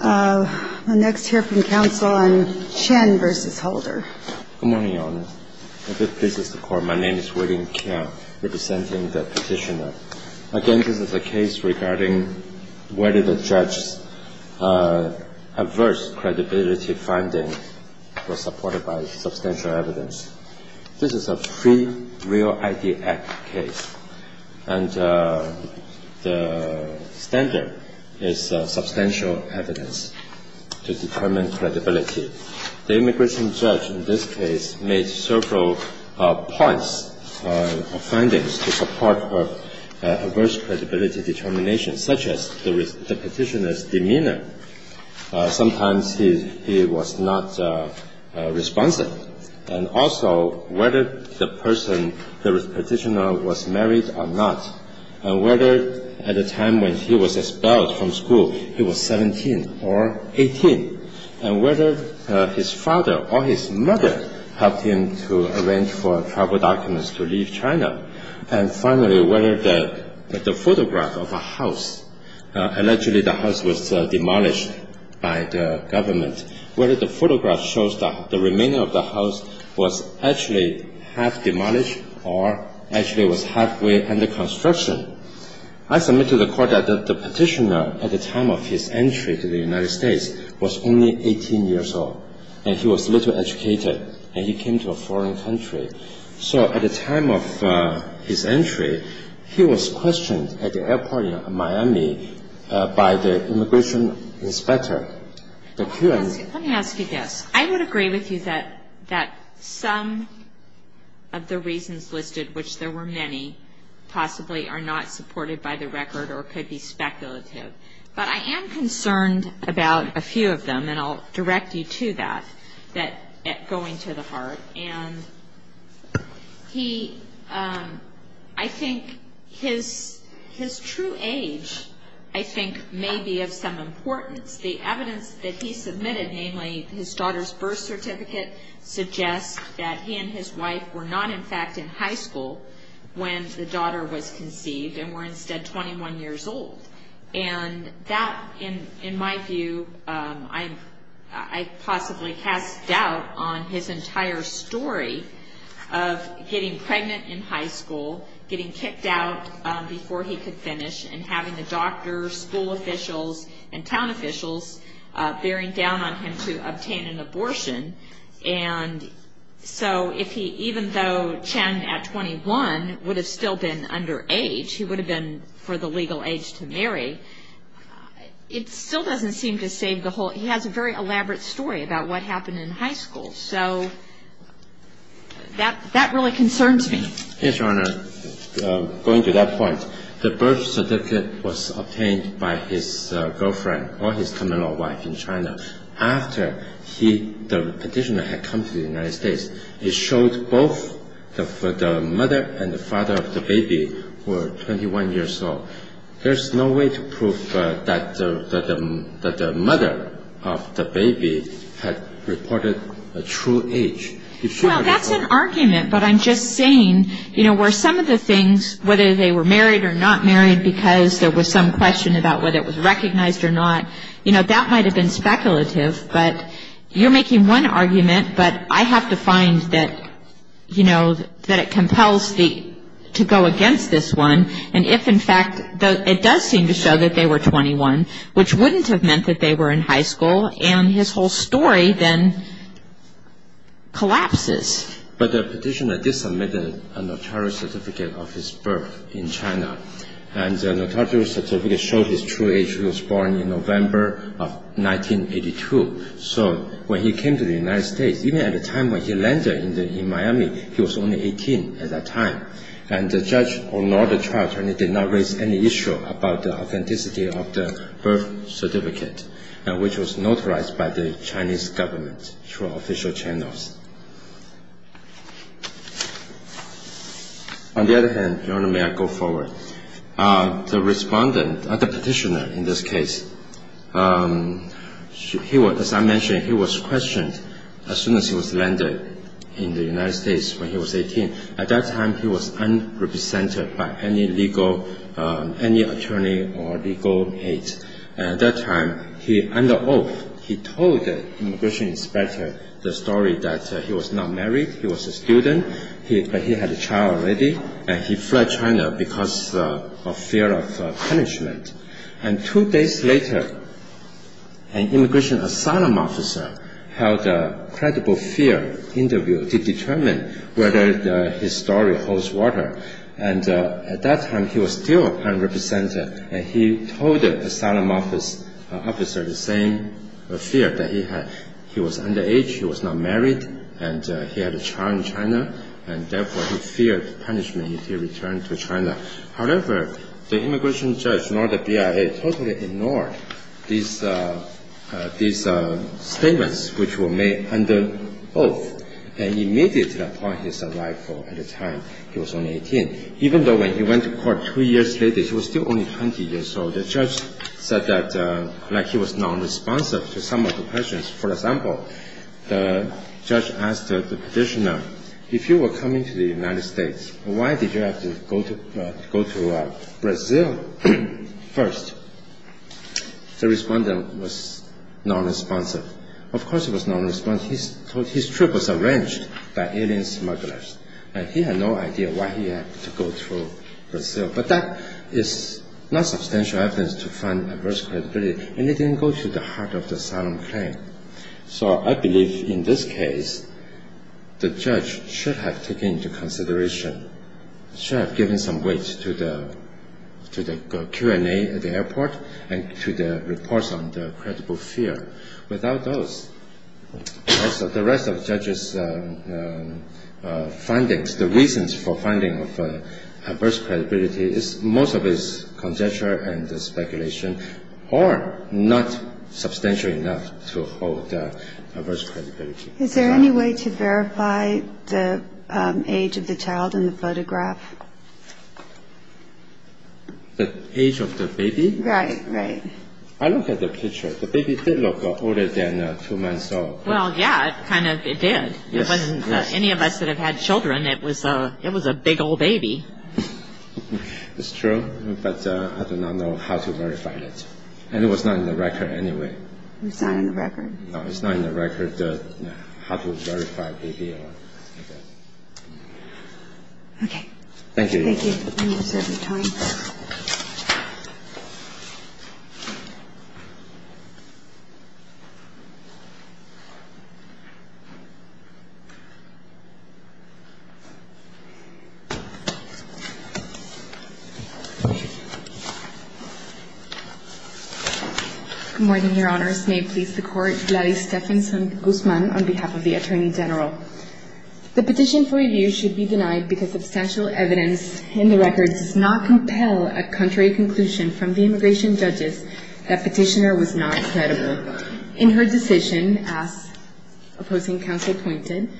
I'll next hear from counsel on Chen v. Holder. Good morning, Your Honor. If it pleases the Court, my name is William Keng, representing the Petitioner. Again, this is a case regarding whether the judge's adverse credibility finding was supported by substantial evidence. This is a Free Real ID Act case, and the standard is substantial evidence to determine credibility. The immigration judge in this case made several points or findings to support her adverse credibility determination, such as the Petitioner's demeanor. Sometimes he was not responsive, and also whether the person, the Petitioner, was married or not, and whether at the time when he was expelled from school he was 17 or 18, and whether his father or his mother helped him to arrange for travel documents to leave China, and finally, whether the photograph of a house, allegedly the house was demolished by the government, whether the photograph shows that the remaining of the house was actually half demolished or actually was halfway under construction. I submit to the Court that the Petitioner at the time of his entry to the United States was only 18 years old, and he was little educated, and he came to a foreign country. So at the time of his entry, he was questioned at the airport in Miami by the immigration inspector. Let me ask you this. I would agree with you that some of the reasons listed, which there were many, possibly are not supported by the record or could be speculative. But I am concerned about a few of them, and I'll direct you to that, that go into the heart. And I think his true age, I think, may be of some importance. The evidence that he submitted, namely his daughter's birth certificate, suggests that he and his wife were not in fact in high school when the daughter was conceived and were instead 21 years old. And that, in my view, I possibly cast doubt on his entire story of getting pregnant in high school, getting kicked out before he could finish, and having the doctors, school officials, and town officials bearing down on him to obtain an abortion. And so even though Chen, at 21, would have still been underage, he would have been for the legal age to marry, it still doesn't seem to save the whole – he has a very elaborate story about what happened in high school. So that really concerns me. Yes, Your Honor. Going to that point, the birth certificate was obtained by his girlfriend or his coming-of-age wife in China. After he, the petitioner, had come to the United States, he showed both the mother and the father of the baby were 21 years old. There's no way to prove that the mother of the baby had reported a true age. Well, that's an argument, but I'm just saying, you know, where some of the things, whether they were married or not married because there was some question about whether it was recognized or not, you know, that might have been speculative. But you're making one argument, but I have to find that, you know, that it compels to go against this one. And if, in fact, it does seem to show that they were 21, which wouldn't have meant that they were in high school, and his whole story then collapses. But the petitioner did submit a notary certificate of his birth in China, and the notary certificate showed his true age. He was born in November of 1982. So when he came to the United States, even at the time when he landed in Miami, he was only 18 at that time. And the judge or not the child attorney did not raise any issue about the authenticity of the birth certificate, which was notarized by the Chinese government through official channels. On the other hand, Your Honor, may I go forward? The respondent, the petitioner in this case, he was, as I mentioned, he was questioned as soon as he was landed in the United States when he was 18. At that time, he was unrepresented by any legal, any attorney or legal aid. At that time, under oath, he told the immigration inspector the story that he was not married, he was a student, but he had a child already, and he fled China because of fear of punishment. And two days later, an immigration asylum officer held a credible fear interview to determine whether his story holds water. And at that time, he was still unrepresented, and he told the asylum officer the same fear that he had. He was underage, he was not married, and he had a child in China, and therefore he feared punishment if he returned to China. However, the immigration judge nor the BIA totally ignored these statements which were made under oath, and immediately upon his arrival at the time, he was only 18. Even though when he went to court two years later, he was still only 20 years old, the judge said that like he was nonresponsive to some of the questions. For example, the judge asked the petitioner, if you were coming to the United States, why did you have to go to Brazil first? The respondent was nonresponsive. Of course he was nonresponsive, his trip was arranged by alien smugglers, and he had no idea why he had to go to Brazil. But that is not substantial evidence to find adverse credibility, and it didn't go to the heart of the asylum claim. So I believe in this case, the judge should have taken into consideration, should have given some weight to the Q&A at the airport, and to the reports on the credible fear. Without those, the rest of the judge's findings, the reasons for finding adverse credibility, most of it is conjecture and speculation, or not substantial enough to hold adverse credibility. Is there any way to verify the age of the child in the photograph? The age of the baby? Right, right. I looked at the picture, the baby did look older than two months old. Well, yeah, it kind of did. For any of us that have had children, it was a big old baby. It's true, but I do not know how to verify it. And it was not in the record anyway. It's not in the record? No, it's not in the record, how to verify a baby. Okay. Thank you. Thank you. Good morning, Your Honors. May it please the Court, Gladys Stephenson Guzman on behalf of the Attorney General. The petition for review should be denied because substantial evidence in the record does not compel a contrary conclusion from the immigration judges that petitioner was not credible. In her decision, as opposing counsel pointed,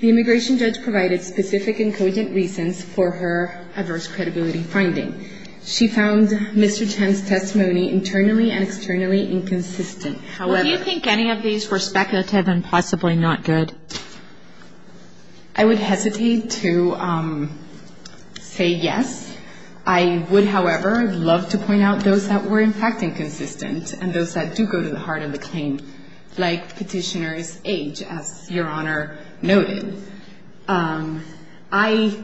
the immigration judge provided specific and cogent reasons for her adverse credibility finding. She found Mr. Chen's testimony internally and externally inconsistent. Do you think any of these were speculative and possibly not good? I would hesitate to say yes. I would, however, love to point out those that were, in fact, inconsistent and those that do go to the heart of the claim, like petitioner's age, as Your Honor noted. I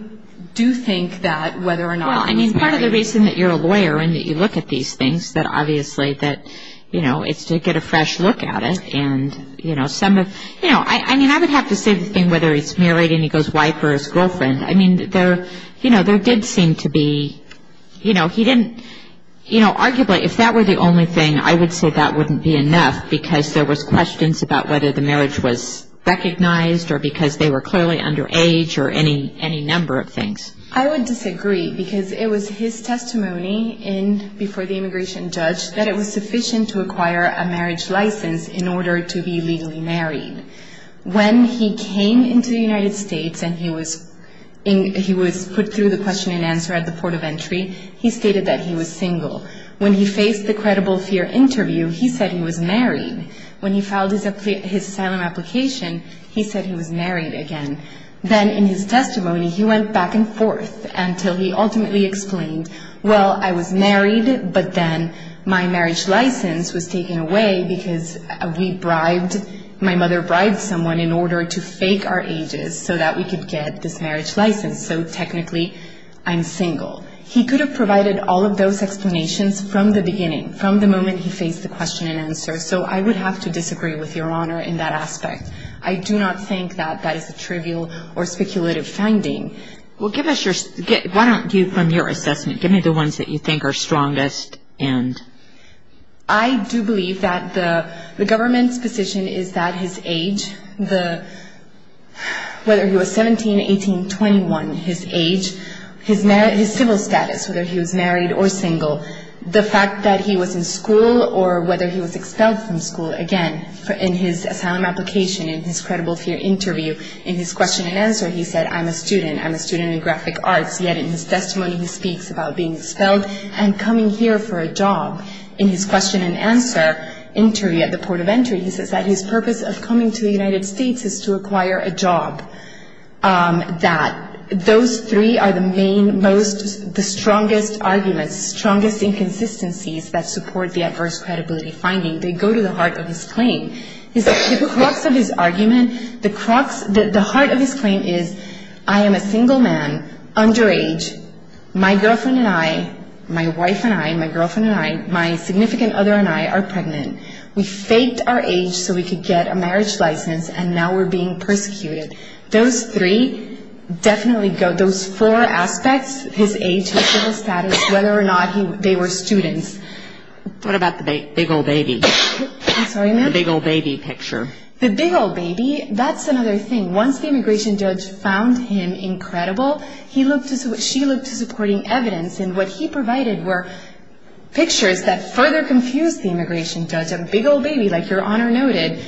do think that whether or not he was married. Well, I mean, part of the reason that you're a lawyer and that you look at these things, that obviously that, you know, it's to get a fresh look at it. And, you know, some of, you know, I mean, I would have to say the thing whether he's married and he goes white for his girlfriend. I mean, there, you know, there did seem to be, you know, he didn't, you know, arguably if that were the only thing, I would say that wouldn't be enough because there was questions about whether the marriage was recognized or because they were clearly underage or any number of things. I would disagree because it was his testimony before the immigration judge that it was sufficient to acquire a marriage license in order to be legally married. When he came into the United States and he was put through the question and answer at the port of entry, he stated that he was single. When he faced the credible fear interview, he said he was married. When he filed his asylum application, he said he was married again. Then in his testimony, he went back and forth until he ultimately explained, well, I was married, but then my marriage license was taken away because we bribed, my mother bribed someone in order to fake our ages so that we could get this marriage license. So technically, I'm single. He could have provided all of those explanations from the beginning, from the moment he faced the question and answer. So I would have to disagree with Your Honor in that aspect. I do not think that that is a trivial or speculative finding. Well, give us your, why don't you from your assessment, give me the ones that you think are strongest and. I do believe that the government's position is that his age, whether he was 17, 18, 21, his age, his civil status, whether he was married or single, the fact that he was in school or whether he was expelled from school. Again, in his asylum application, in his credible fear interview, in his question and answer, he said, I'm a student. I'm a student in graphic arts. Yet in his testimony, he speaks about being expelled and coming here for a job. In his question and answer interview at the port of entry, he says that his purpose of coming to the United States is to acquire a job, that those three are the main, most, the strongest arguments, the strongest inconsistencies that support the adverse credibility finding. They go to the heart of his claim. The crux of his argument, the heart of his claim is, I am a single man, underage. My girlfriend and I, my wife and I, my girlfriend and I, my significant other and I are pregnant. We faked our age so we could get a marriage license, and now we're being persecuted. Those three definitely go, those four aspects, his age, his civil status, whether or not they were students. What about the big old baby? I'm sorry, ma'am? The big old baby picture. The big old baby, that's another thing. Once the immigration judge found him incredible, she looked to supporting evidence, and what he provided were pictures that further confused the immigration judge. There's a big old baby, like Your Honor noted.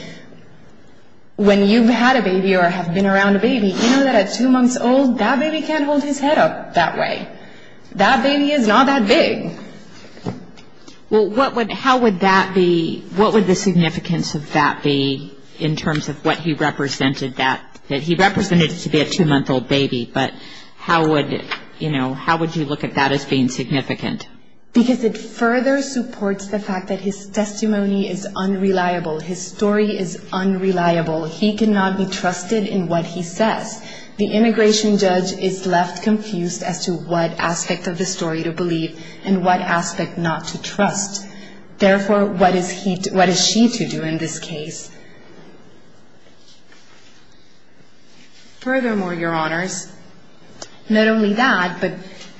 When you've had a baby or have been around a baby, you know that at two months old, that baby can't hold his head up that way. That baby is not that big. Well, how would that be, what would the significance of that be in terms of what he represented that, that he represented to be a two-month-old baby, but how would, you know, how would you look at that as being significant? Because it further supports the fact that his testimony is unreliable. His story is unreliable. He cannot be trusted in what he says. The immigration judge is left confused as to what aspect of the story to believe and what aspect not to trust. Therefore, what is he, what is she to do in this case? Furthermore, Your Honors, not only that, but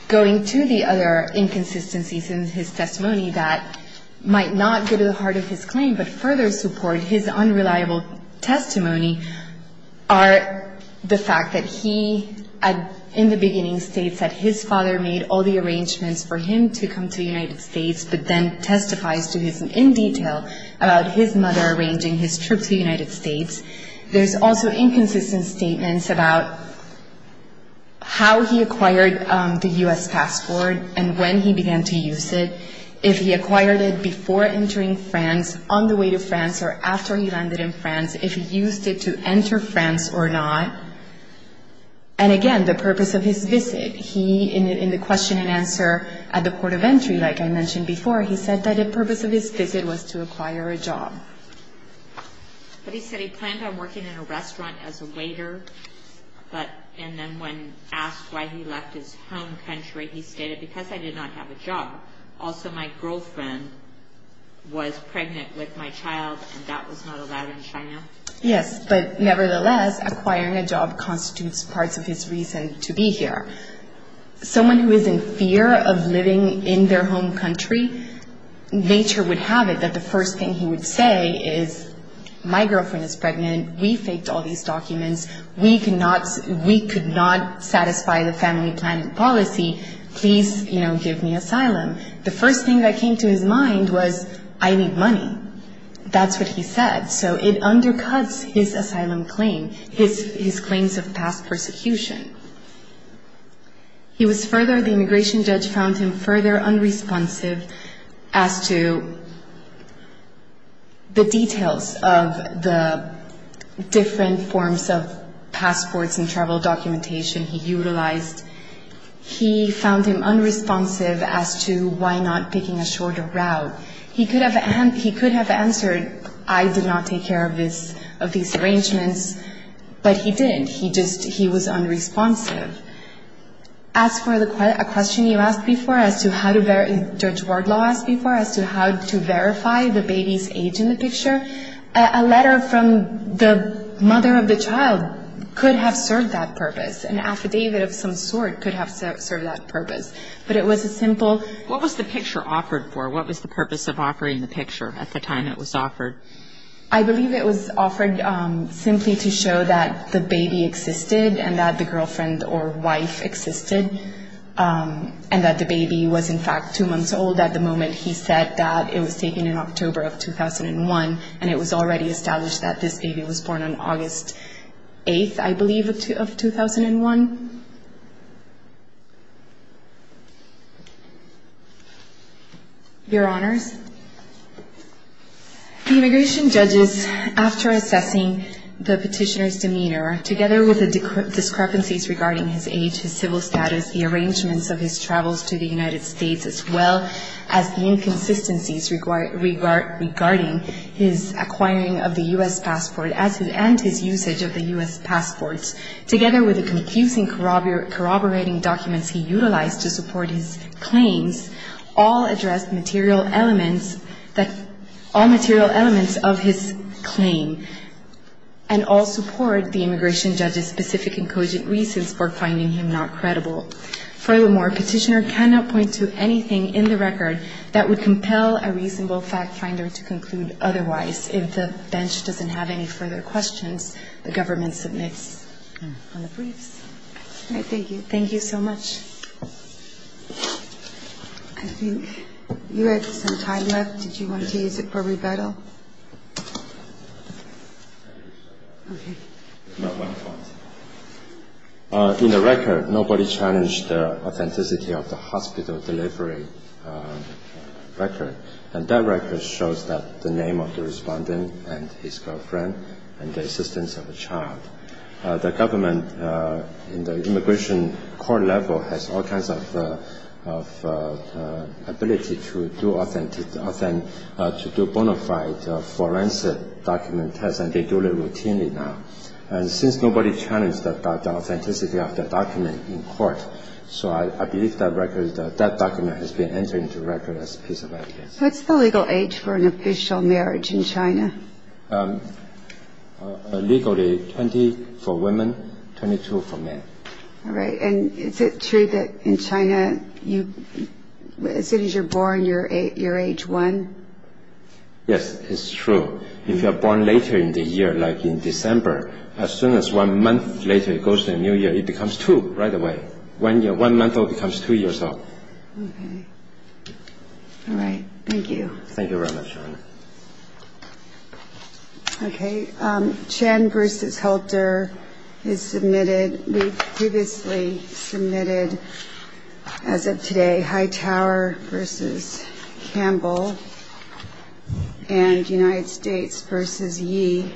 going to the other inconsistencies in his testimony that might not go to the heart of his claim but further support his unreliable testimony are the fact that he, in the beginning, states that his father made all the arrangements for him to come to the United States, but then testifies to his, in detail, about his mother arranging his trip to the United States. There's also inconsistent statements about how he acquired the U.S. passport and when he began to use it, if he acquired it before entering France, on the way to France, or after he landed in France, if he used it to enter France or not. And, again, the purpose of his visit. He, in the question and answer at the court of entry, like I mentioned before, he said that the purpose of his visit was to acquire a job. But he said he planned on working in a restaurant as a waiter, and then when asked why he left his home country, he stated, because I did not have a job. Also, my girlfriend was pregnant with my child, and that was not allowed in China. Yes, but nevertheless, acquiring a job constitutes parts of his reason to be here. Someone who is in fear of living in their home country, nature would have it that the first thing he would say is, my girlfriend is pregnant, we faked all these documents, we could not satisfy the family planning policy, please give me asylum. The first thing that came to his mind was, I need money. That's what he said. So it undercuts his asylum claim, his claims of past persecution. He was further, the immigration judge found him further unresponsive as to the details of the different forms of passports and travel documentation he utilized. He found him unresponsive as to why not picking a shorter route. He could have answered, I did not take care of this, of these arrangements, but he didn't. He just, he was unresponsive. As for the question you asked before as to how to verify, Judge Wardlaw asked before as to how to verify the baby's age in the picture, a letter from the mother of the child could have served that purpose. An affidavit of some sort could have served that purpose. But it was a simple. What was the picture offered for? What was the purpose of offering the picture at the time it was offered? I believe it was offered simply to show that the baby existed and that the girlfriend or wife existed, and that the baby was in fact two months old at the moment he said that. It was taken in October of 2001, and it was already established that this baby was born on August 8th, I believe, of 2001. Your Honors, the immigration judges, after assessing the petitioner's demeanor, together with the discrepancies regarding his age, his civil status, the arrangements of his travels to the United States, as well as the inconsistencies regarding his acquiring of the U.S. passport and his usage of the U.S. passport, together with the confusing corroborating documents he utilized to support his claims, all addressed material elements that – all material elements of his claim and all support the immigration judge's specific and cogent reasons for finding him not credible. Furthermore, petitioner cannot point to anything in the record that would compel a reasonable fact finder to conclude otherwise. If the bench doesn't have any further questions, the government submits on the briefs. All right, thank you. Thank you so much. I think you had some time left. Did you want to use it for rebuttal? In the record, nobody challenged the authenticity of the hospital delivery record, and that record shows the name of the respondent and his girlfriend and the assistance of a child. The government, in the immigration court level, has all kinds of ability to do authentic – to do bona fide forensic document tests, and they do it routinely now. And since nobody challenged the authenticity of the document in court, so I believe that record – that document has been entered into the record as a piece of evidence. What's the legal age for an official marriage in China? Legally, 20 for women, 22 for men. All right, and is it true that in China, as soon as you're born, you're age one? Yes, it's true. If you're born later in the year, like in December, as soon as one month later it goes to the new year, it becomes two right away. One month old becomes two years old. Okay. All right, thank you. Thank you very much. Okay, Chen versus Helter is submitted. We've previously submitted, as of today, Hightower versus Campbell, and United States versus Yi.